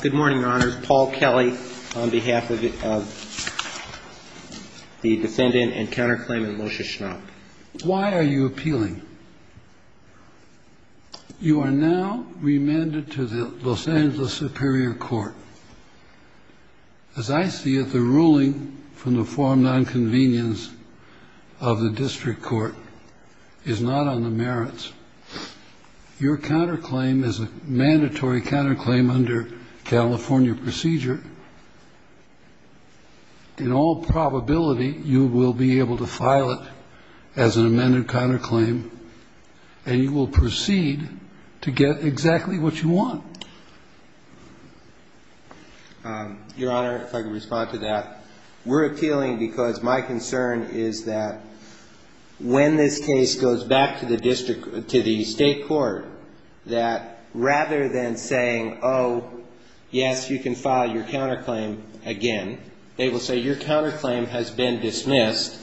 Good morning, Your Honors. Paul Kelly on behalf of the defendant and counterclaimant, Moshe Schnapp. Why are you appealing? You are now remanded to the Los Angeles Superior Court. As I see it, the ruling from the form of nonconvenience of the district court is not on the merits. Your counterclaim is a mandatory counterclaim under California procedure. In all probability, you will be able to file it as an amended counterclaim and you will proceed to get exactly what you want. Your Honor, if I could respond to that. We're appealing because my concern is that when this case goes back to the district, to the state court, that rather than saying, oh, yes, you can file your counterclaim again, they will say your counterclaim has been dismissed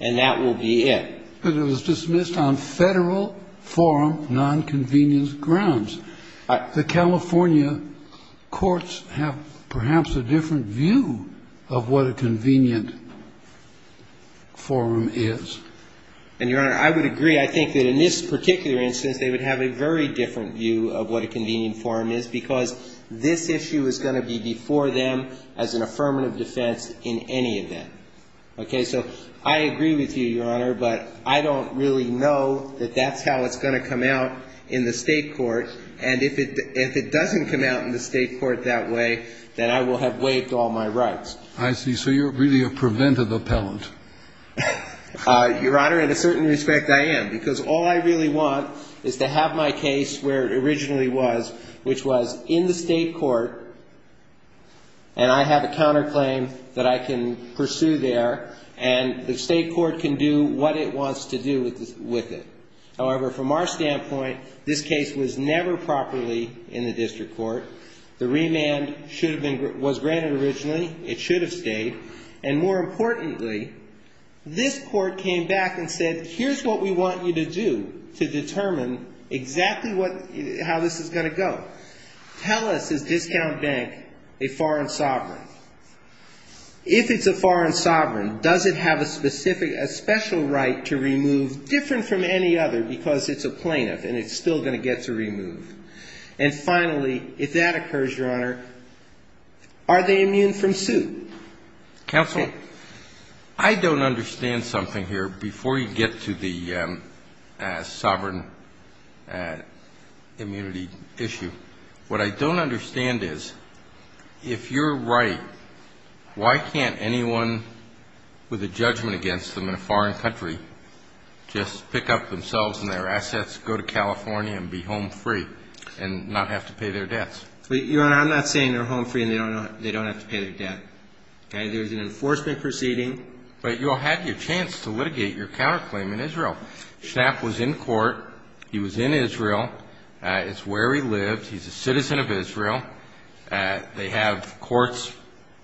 and that will be it. But it was dismissed on federal forum nonconvenience grounds. The California courts have perhaps a different view of what a convenient forum is. And, Your Honor, I would agree. I think that in this particular instance, they would have a very different view of what a convenient forum is because this issue is going to be before them as an affirmative defense in any event. Okay. So I agree with you, Your Honor, but I don't really know that that's how it's going to come out in the state court. And if it doesn't come out in the state court that way, then I will have waived all my rights. I see. So you're really a preventive appellant. Your Honor, in a certain respect, I am, because all I really want is to have my case where it originally was, which was in the state court, and I have a counterclaim that I can pursue there, and the state court can do what it wants to do with it. However, from our standpoint, this case was never properly in the district court. The remand was granted originally. It should have stayed. And more importantly, this court came back and said, here's what we want you to do to determine exactly how this is going to go. Tell us, is Discount Bank a foreign sovereign? If it's a foreign sovereign, does it have a specific, a special right to remove different from any other because it's a plaintiff and it's still going to get to remove? And finally, if that occurs, Your Honor, are they immune from suit? Counsel, I don't understand something here before you get to the sovereign immunity issue. What I don't understand is, if you're right, why can't anyone with a judgment against them in a foreign country just pick up themselves and their assets, go to California and be home free and not have to pay their debts? But, Your Honor, I'm not saying they're home free and they don't have to pay their debt. Okay? There's an enforcement proceeding. But you had your chance to litigate your counterclaim in Israel. Schnapp was in court. He was in Israel. It's where he lived. He's a citizen of Israel. They have courts,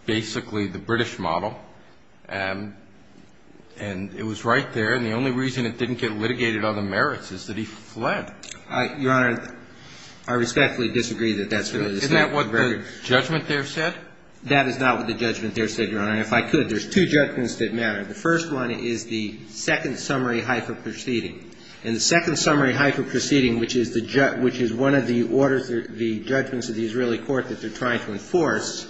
basically the British model. And it was right there, and the only reason it didn't get litigated on the merits is that he fled. I respectfully disagree that that's really the case. Isn't that what the judgment there said? That is not what the judgment there said, Your Honor. And if I could, there's two judgments that matter. The first one is the second summary hypo proceeding. And the second summary hypo proceeding, which is one of the orders, the judgments of the Israeli court that they're trying to enforce,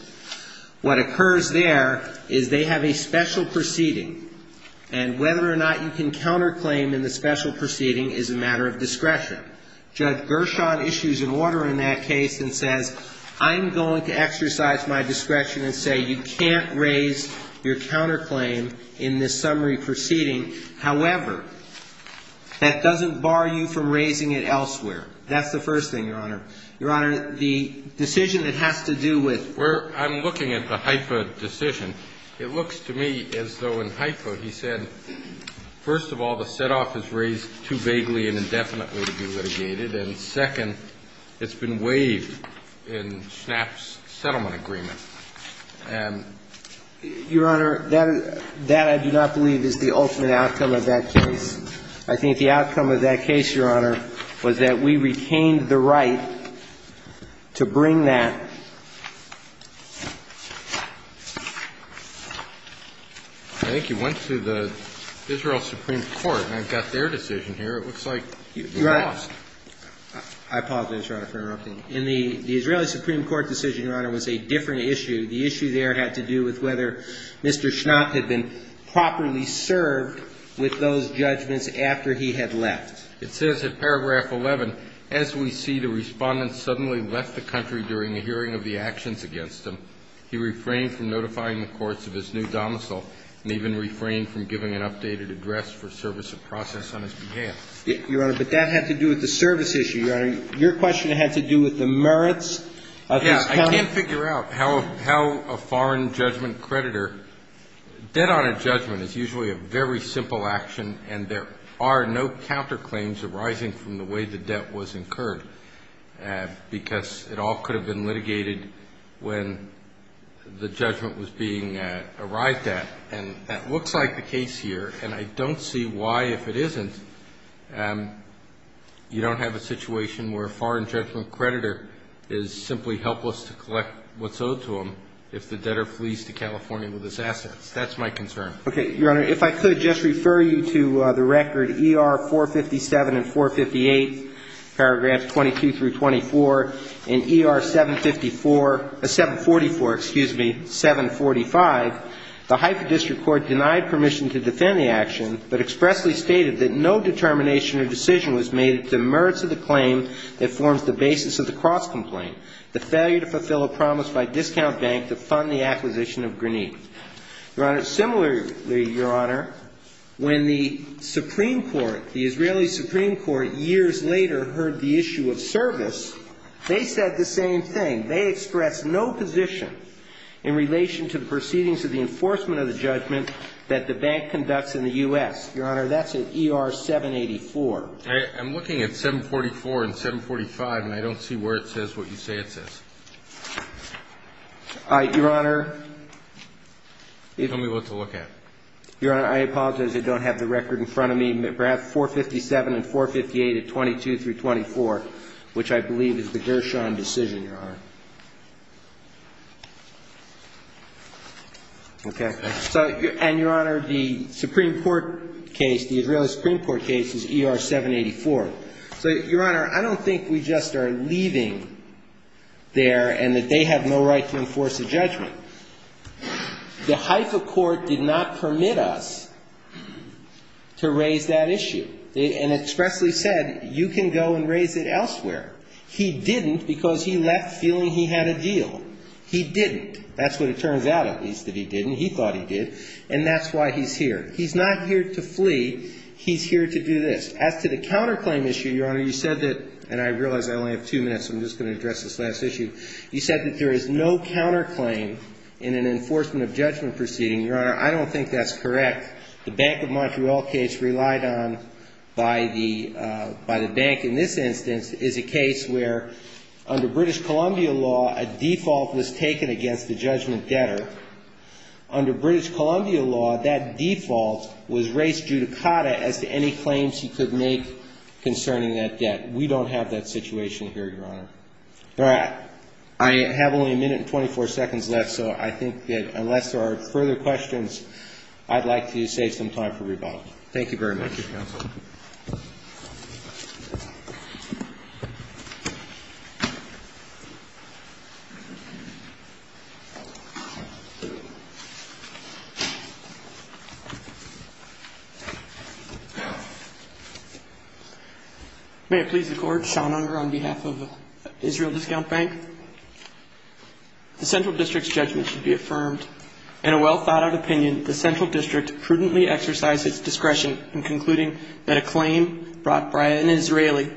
what occurs there is they have a special proceeding, and whether or not you can counterclaim in the special proceeding is a matter of discretion. Judge Gershon issues an order in that case and says, I'm going to exercise my discretion and say, you can't raise your counterclaim in this summary proceeding. However, that doesn't bar you from raising it elsewhere. That's the first thing, Your Honor. Your Honor, the decision that has to do with… I'm looking at the hypo decision. It looks to me as though in hypo he said, first of all, the set-off is raised too vaguely and indefinitely to be litigated, and second, it's been waived in Schnapp's settlement agreement. And I think the outcome of that case, Your Honor, was that we retained the right to bring that… I think you went to the Israel Supreme Court, and I've got their decision here. It looks like you lost. I apologize, Your Honor, for interrupting. In the… the Israeli Supreme Court decision, Your Honor, was a different issue. The issue there had to do with whether Mr. Schnapp had been properly served with those judgments after he had left. It says in paragraph 11, as we see, the Respondent suddenly left the country during a hearing of the actions against him. He refrained from notifying the courts of his new domicile and even refrained from giving an updated address for service of process on his behalf. Your Honor, but that had to do with the service issue. Your Honor, your question had to do with the merits of his… Yes. I can't figure out how a foreign judgment creditor… Debt on a judgment is usually a very simple action, and there are no counterclaims arising from the way the debt was incurred, because it all could have been litigated when the judgment was being arrived at. And that looks like the case here, and I don't see why, if it isn't, you don't have a situation where a foreign judgment creditor is simply helpless to collect what's owed to him if the debtor flees to California with his assets. That's my concern. Okay. Your Honor, if I could just refer you to the record ER 457 and 458, paragraphs 22 through 24. In ER 754 — 744, excuse me, 745, the Haifa District Court denied permission to defend the action, but expressly stated that no determination or decision was made to the merits of the claim that forms the basis of the cross-complaint, the failure to fulfill a promise by discount bank to fund the acquisition of Grenitte. Your Honor, similarly, Your Honor, when the Supreme Court, the Israeli Supreme Court, years later heard the issue of service, they said the same thing. They expressed no position in relation to the proceedings of the enforcement of the judgment that the bank conducts in the U.S. Your Honor, that's in ER 784. I'm looking at 744 and 745, and I don't see where it says what you say it says. Your Honor. Tell me what to look at. Your Honor, I apologize. I don't have the record in front of me. Paragraph 457 and 458 at 22 through 24, which I believe is the Gershon decision, Your Honor. Okay. So — and, Your Honor, the Supreme Court case, the Israeli Supreme Court case is ER 784. So, Your Honor, I don't think we just are leaving there and that they have no right to enforce a judgment. The Haifa court did not permit us to raise that issue. And expressly said, you can go and raise it elsewhere. He didn't because he left feeling he had a deal. He didn't. That's what it turns out, at least, that he didn't. He thought he did. And that's why he's here. He's not here to flee. He's here to do this. As to the counterclaim issue, Your Honor, you said that — and I realize I only have two minutes, so I'm just going to address this last issue. You said that there is no counterclaim in an enforcement of judgment proceeding. Your Honor, I don't think that's correct. The Bank of Montreal case relied on by the bank in this instance is a case where, under British Columbia law, a default was taken against the judgment debtor. Under British Columbia law, that default was raised judicata as to any claims he could make concerning that debt. We don't have that situation here, Your Honor. All right. I have only a minute and 24 seconds left, so I think that unless there are further questions, I'd like to save some time for rebuttal. Thank you very much. Thank you, Counsel. May it please the Court, Sean Unger on behalf of Israel Discount Bank. The central district's judgment should be affirmed. In a well-thought-out opinion, the central district prudently exercised its discretion in concluding that the judgment debtor's judgment It was a fraud. It was a fraud. that a claim brought by an Israeli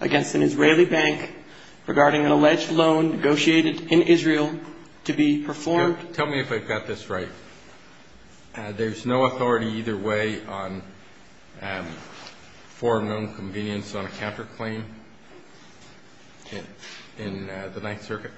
against an Israeli bank regarding an alleged loan negotiated in Israel to be performed. Tell me if I've got this right. There's no authority either way on foreign loan convenience on a counterclaim in the Ninth Circuit?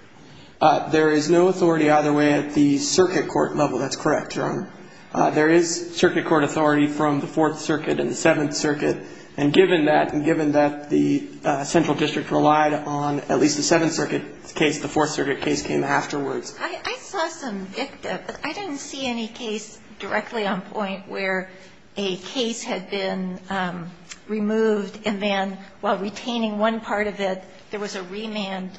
There is no authority either way at the circuit court level. That's correct, Your Honor. There is circuit court authority from the Fourth Circuit and the Seventh Circuit. And given that, and given that the central district relied on at least the Seventh Circuit case, the Fourth Circuit case came afterwards. I saw some dicta, but I didn't see any case directly on point where a case had been removed and then while retaining one part of it, there was a remand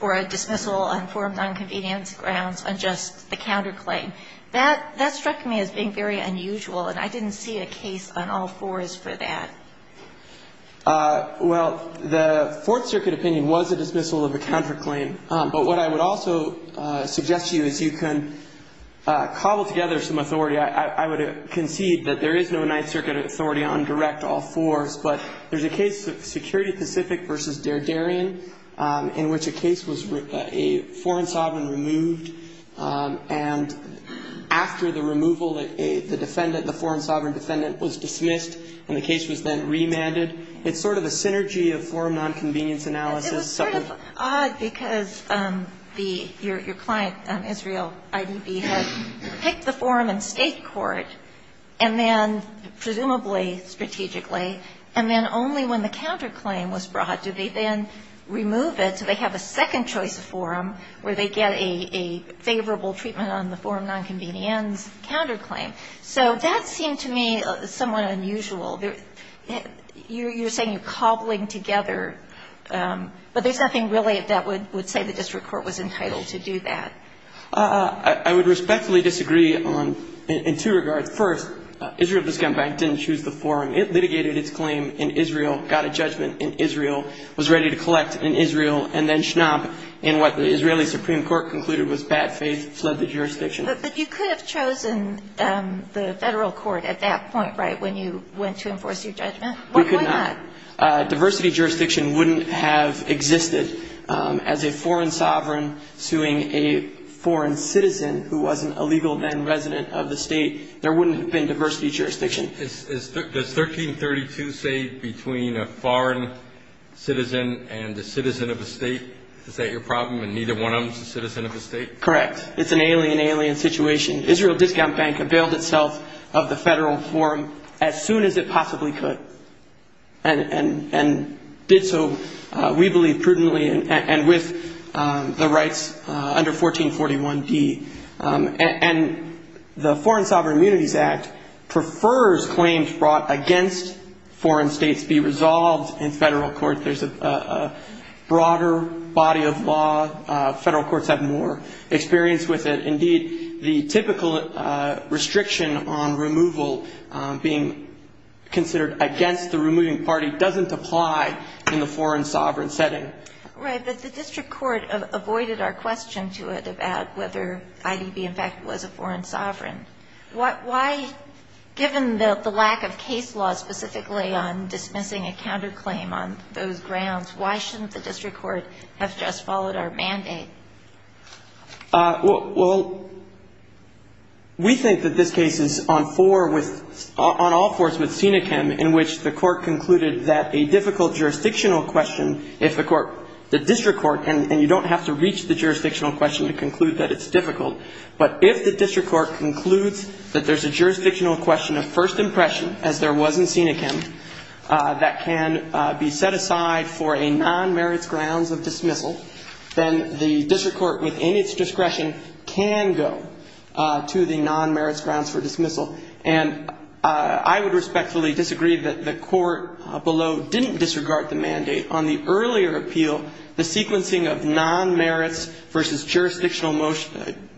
or a dismissal on foreign loan convenience grounds on just the counterclaim. That struck me as being very unusual, and I didn't see a case on all fours for that. Well, the Fourth Circuit opinion was a dismissal of a counterclaim. But what I would also suggest to you is you can cobble together some authority. I would concede that there is no Ninth Circuit authority on direct all fours. But there's a case of Security Pacific v. Der Darien in which a case was a foreign sovereign removed. And after the removal, the defendant, the foreign sovereign defendant, was dismissed and the case was then remanded. It's sort of a synergy of foreign nonconvenience analysis. It was sort of odd because the – your client, Israel IDB, had picked the forum in state court and then presumably strategically and then only when the counterclaim was brought do they then remove it so they have a second choice forum where they get a favorable treatment on the forum nonconvenience counterclaim. So that seemed to me somewhat unusual. You're saying you're cobbling together, but there's nothing really that would say the district court was entitled to do that. I would respectfully disagree on – in two regards. First, Israel Discontent Bank didn't choose the forum. It litigated its claim in Israel, got a judgment in Israel, was ready to collect in Israel, and then Schnapp in what the Israeli Supreme Court concluded was bad faith, fled the jurisdiction. But you could have chosen the federal court at that point, right, when you went to enforce your judgment? We could not. Diversity jurisdiction wouldn't have existed. As a foreign sovereign suing a foreign citizen who wasn't a legal then resident of the state, there wouldn't have been diversity jurisdiction. Does 1332 say between a foreign citizen and a citizen of a state? Is that your problem and neither one of them is a citizen of a state? Correct. It's an alien, alien situation. Israel Discount Bank availed itself of the federal forum as soon as it possibly could and did so, we believe, prudently and with the rights under 1441D. And the Foreign Sovereign Immunities Act prefers claims brought against foreign states be resolved in federal court. There's a broader body of law. Federal courts have more experience with it. Indeed, the typical restriction on removal being considered against the removing party doesn't apply in the foreign sovereign setting. Right, but the district court avoided our question to it about whether IDB in fact was a foreign sovereign. Why, given the lack of case law specifically on dismissing a counterclaim on those grounds, why shouldn't the district court have just followed our mandate? Well, we think that this case is on four with, on all fours with Senecam in which the court concluded that a difficult jurisdictional question, if the court, the district court, and you don't have to reach the jurisdictional question to conclude that it's difficult, but if the district court concludes that there's a jurisdictional question of first impression, as there was in Senecam, that can be set aside for a non-merits grounds of dismissal, then the district court within its discretion can go to the non-merits grounds for dismissal. And I would respectfully disagree that the court below didn't disregard the mandate. On the earlier appeal, the sequencing of non-merits versus jurisdictional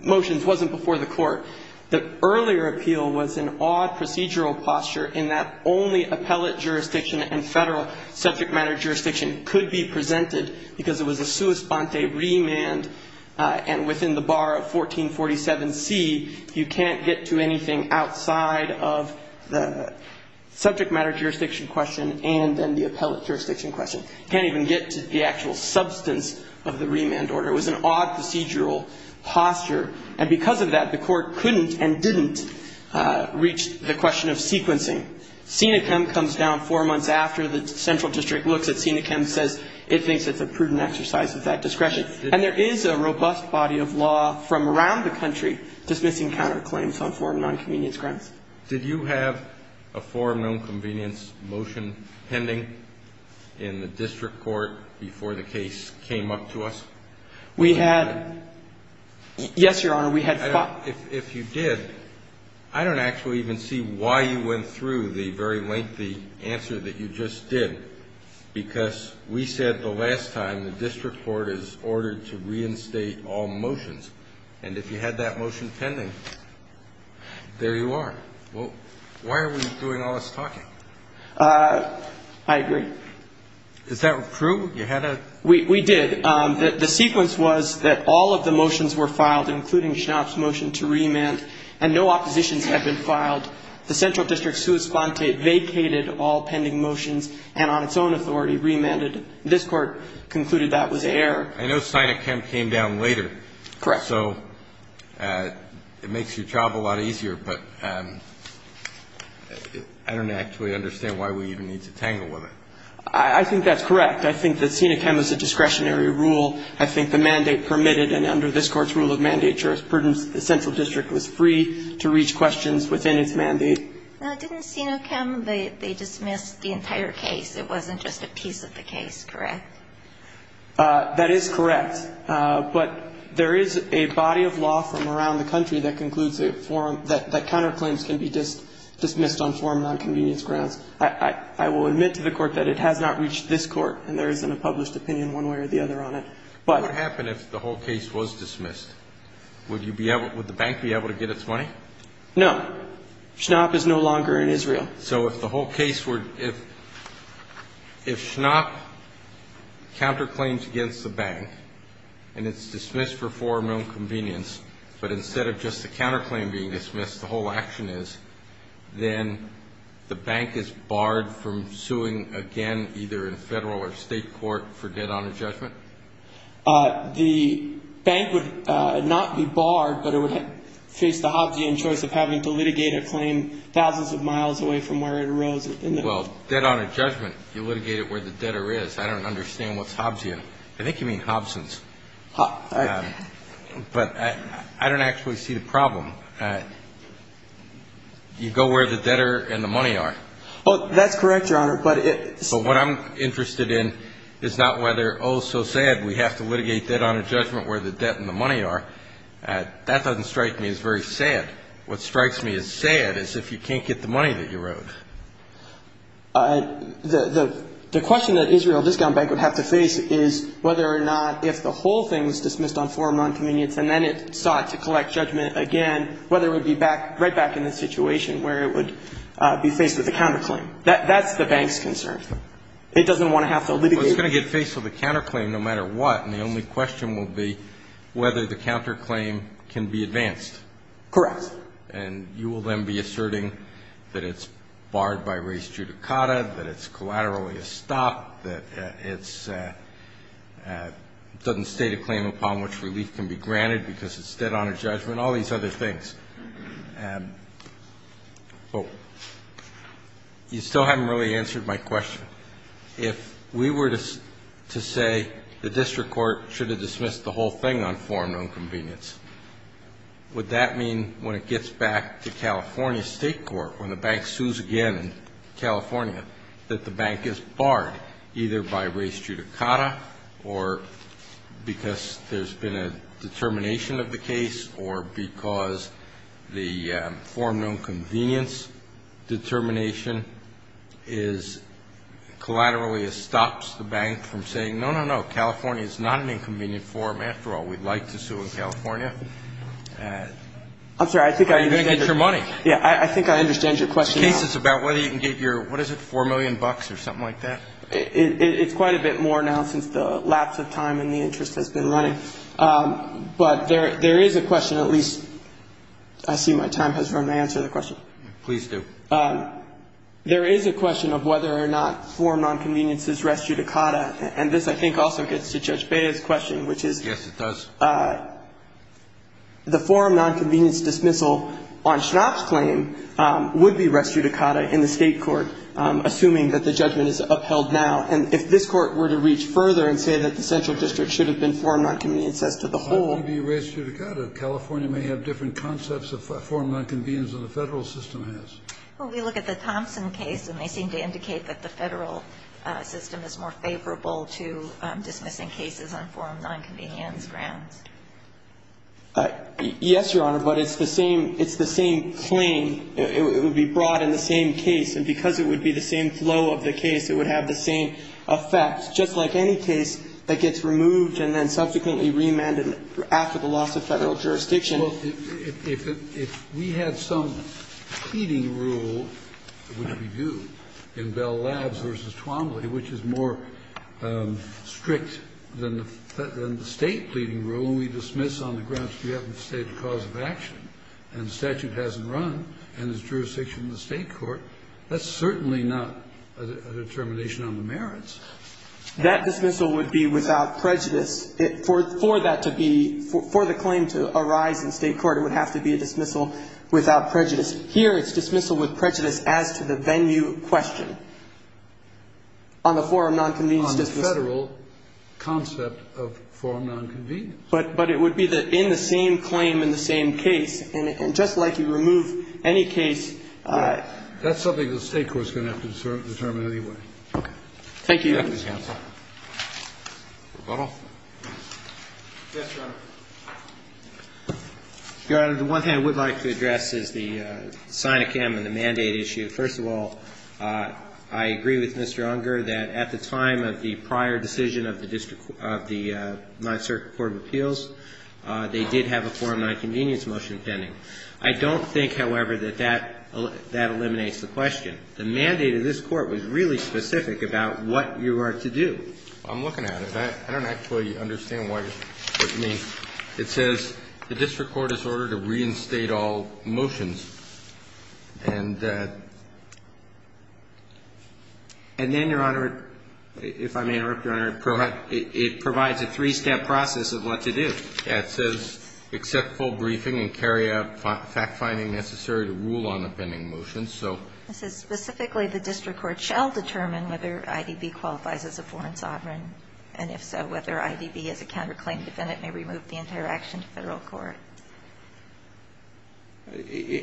motions wasn't before the court. The earlier appeal was an odd procedural posture in that only appellate jurisdiction and federal subject matter jurisdiction could be presented because it was a sua sponte remand and within the bar of 1447C, you can't get to anything outside of the subject matter jurisdiction question and then the appellate jurisdiction question. You can't even get to the actual substance of the remand order. It was an odd procedural posture. And because of that, the court couldn't and didn't reach the question of sequencing. Senecam comes down four months after the central district looks at Senecam and says it thinks it's a prudent exercise of that discretion. And there is a robust body of law from around the country dismissing counterclaims on foreign non-convenience grounds. Did you have a foreign non-convenience motion pending in the district court before the case came up to us? We had. Yes, Your Honor, we had five. Well, if you did, I don't actually even see why you went through the very lengthy answer that you just did. Because we said the last time the district court is ordered to reinstate all motions. And if you had that motion pending, there you are. Well, why are we doing all this talking? I agree. Is that true? You had a. We did. The sequence was that all of the motions were filed, including Schnapp's motion to remand, and no oppositions have been filed. The central district sui sponte vacated all pending motions and on its own authority remanded. This court concluded that was an error. I know Senecam came down later. Correct. So it makes your job a lot easier, but I don't actually understand why we even need to tangle with it. I think that's correct. I think that Senecam is a discretionary rule. I think the mandate permitted and under this court's rule of mandate, jurisprudence, the central district was free to reach questions within its mandate. Didn't Senecam, they dismissed the entire case. It wasn't just a piece of the case. Correct. That is correct. But there is a body of law from around the country that concludes a forum that counterclaims can be dismissed on forum nonconvenience grounds. I will admit to the court that it has not reached this court and there isn't a published opinion one way or the other on it. But what happened if the whole case was dismissed? Would you be able would the bank be able to get its money? No. Schnapp is no longer in Israel. So if the whole case were if. If Schnapp counterclaims against the bank and it's dismissed for forum nonconvenience, but instead of just the counterclaim being dismissed, the whole action is. Then the bank is barred from suing again, either in federal or state court for dead on a judgment. The bank would not be barred, but it would face the Hobbesian choice of having to litigate a claim thousands of miles away from where it arose. Well, dead on a judgment, you litigate it where the debtor is. I don't understand what's Hobbesian. I think you mean Hobsons. But I don't actually see the problem. You go where the debtor and the money are. That's correct, Your Honor. But what I'm interested in is not whether, oh, so sad, we have to litigate that on a judgment where the debt and the money are. That doesn't strike me as very sad. What strikes me as sad is if you can't get the money that you wrote. The question that Israel Discount Bank would have to face is whether or not if the whole thing was dismissed on forum nonconvenience and then it sought to collect judgment again, whether it would be right back in the situation where it would be faced with a counterclaim. That's the bank's concern. It doesn't want to have to litigate. Well, it's going to get faced with a counterclaim no matter what, and the only question will be whether the counterclaim can be advanced. Correct. And you will then be asserting that it's barred by res judicata, that it's collaterally a stop, that it doesn't state a claim upon which relief can be granted because it's dead on a judgment, all these other things. You still haven't really answered my question. If we were to say the district court should have dismissed the whole thing on forum nonconvenience, would that mean when it gets back to California State Court, when the bank sues again in California, that the bank is barred either by res judicata or because there's been a determination of the case or because the forum nonconvenience determination collaterally stops the bank from saying, no, no, no, California is not an inconvenient forum after all. I'm sorry. I think I understand your question. The case is about whether you can get your, what is it, $4 million or something like that? It's quite a bit more now since the lapse of time and the interest has been running. But there is a question, at least I see my time has run to answer the question. Please do. There is a question of whether or not forum nonconvenience is res judicata. And this, I think, also gets to Judge Bea's question, which is. Yes, it does. The forum nonconvenience dismissal on Schnapp's claim would be res judicata in the state court, assuming that the judgment is upheld now. And if this court were to reach further and say that the central district should have been forum nonconvenience as to the whole. Why would it be res judicata? California may have different concepts of forum nonconvenience than the Federal system has. Well, we look at the Thompson case and they seem to indicate that the Federal system is more favorable to dismissing cases on forum nonconvenience grounds. Yes, Your Honor, but it's the same, it's the same claim. It would be brought in the same case. And because it would be the same flow of the case, it would have the same effect, just like any case that gets removed and then subsequently remanded after the loss of Federal jurisdiction. Well, if we had some pleading rule, which we do, in Bell Labs v. Twombly, which is more strict than the State pleading rule, and we dismiss on the grounds we haven't stated cause of action, and the statute hasn't run, and there's jurisdiction in the State court, that's certainly not a determination on the merits. That dismissal would be without prejudice. For that to be, for the claim to arise in State court, it would have to be a dismissal without prejudice. Here it's dismissal with prejudice as to the venue question on the forum nonconvenience dismissal. On the Federal concept of forum nonconvenience. But it would be in the same claim, in the same case. And just like you remove any case. That's something the State court is going to have to determine anyway. Thank you. Thank you, counsel. Rebuttal. Yes, Your Honor. Your Honor, the one thing I would like to address is the signicam and the mandate issue. First of all, I agree with Mr. Unger that at the time of the prior decision of the Ninth Circuit Court of Appeals, they did have a forum nonconvenience motion pending. I don't think, however, that that eliminates the question. The mandate of this Court was really specific about what you are to do. I'm looking at it. I don't actually understand what you mean. It says the district court is ordered to reinstate all motions. And then, Your Honor, if I may interrupt, Your Honor. Go ahead. It provides a three-step process of what to do. It says accept full briefing and carry out fact-finding necessary to rule on a pending motion. It says specifically the district court shall determine whether IDB qualifies as a foreign sovereign. And if so, whether IDB as a counterclaim defendant may remove the entire action to Federal court.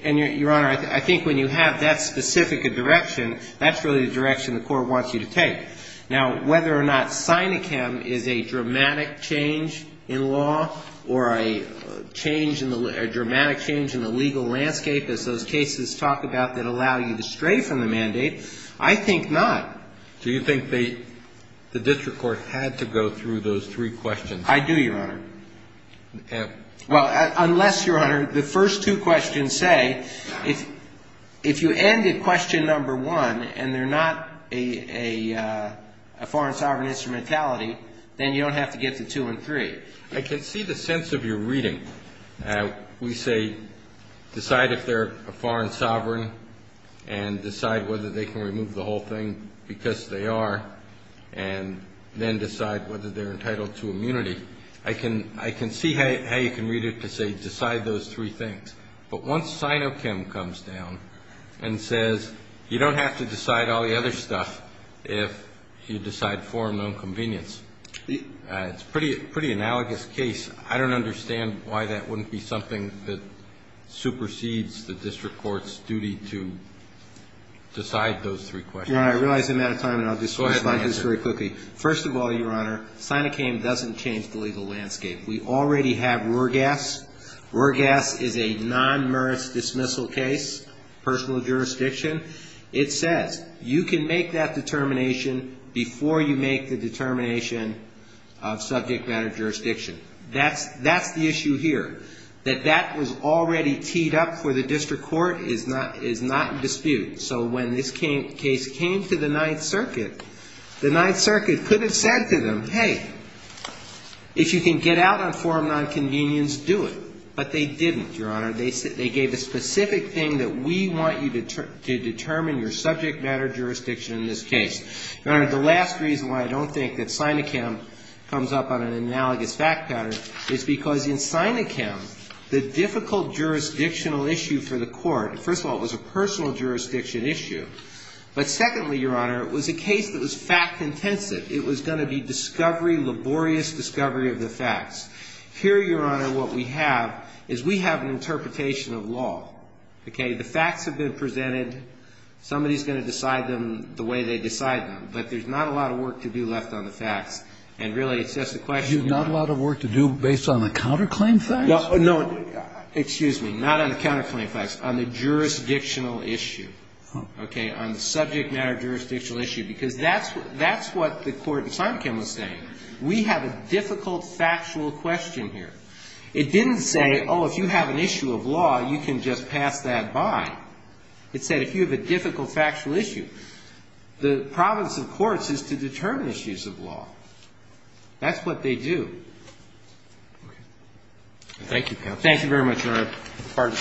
And, Your Honor, I think when you have that specific direction, that's really the direction the court wants you to take. Now, whether or not SINICAM is a dramatic change in law or a change, a dramatic change in the legal landscape, as those cases talk about that allow you to stray from the mandate, I think not. Do you think the district court had to go through those three questions? I do, Your Honor. Well, unless, Your Honor, the first two questions say, if you end at question number one and they're not a foreign sovereign instrumentality, then you don't have to get to two and three. I can see the sense of your reading. We say decide if they're a foreign sovereign and decide whether they can remove the whole thing because they are, and then decide whether they're entitled to immunity. I can see how you can read it to say decide those three things. But once SINICAM comes down and says you don't have to decide all the other stuff if you decide foreign nonconvenience, it's a pretty analogous case. I don't understand why that wouldn't be something that supersedes the district court's duty to decide those three questions. Your Honor, I realize I'm out of time, and I'll just respond to this very quickly. Go ahead, Your Honor. First of all, Your Honor, SINICAM doesn't change the legal landscape. We already have RORGAS. RORGAS is a non-merit dismissal case, personal jurisdiction. It says you can make that determination before you make the determination of subject matter jurisdiction. That's the issue here. That that was already teed up for the district court is not in dispute. So when this case came to the Ninth Circuit, the Ninth Circuit could have said to them, hey, if you can get out on foreign nonconvenience, do it. But they didn't, Your Honor. They gave a specific thing that we want you to determine your subject matter jurisdiction in this case. Your Honor, the last reason why I don't think that SINICAM comes up on an analogous fact pattern is because in SINICAM, the difficult jurisdictional issue for the court, first of all, it was a personal jurisdiction issue. But secondly, Your Honor, it was a case that was fact-intensive. It was going to be discovery, laborious discovery of the facts. Here, Your Honor, what we have is we have an interpretation of law. Okay? The facts have been presented. Somebody is going to decide them the way they decide them. But there's not a lot of work to be left on the facts. And really, it's just a question of time. You have not a lot of work to do based on the counterclaim facts? No. Excuse me. Not on the counterclaim facts. On the jurisdictional issue. Okay? I'm not going to say on the subject matter jurisdictional issue, because that's what the court in SINICAM was saying. We have a difficult factual question here. It didn't say, oh, if you have an issue of law, you can just pass that by. It said if you have a difficult factual issue, the province of courts is to determine issues of law. That's what they do. Okay. Thank you, counsel. Thank you very much, Your Honor. The court is adjourned.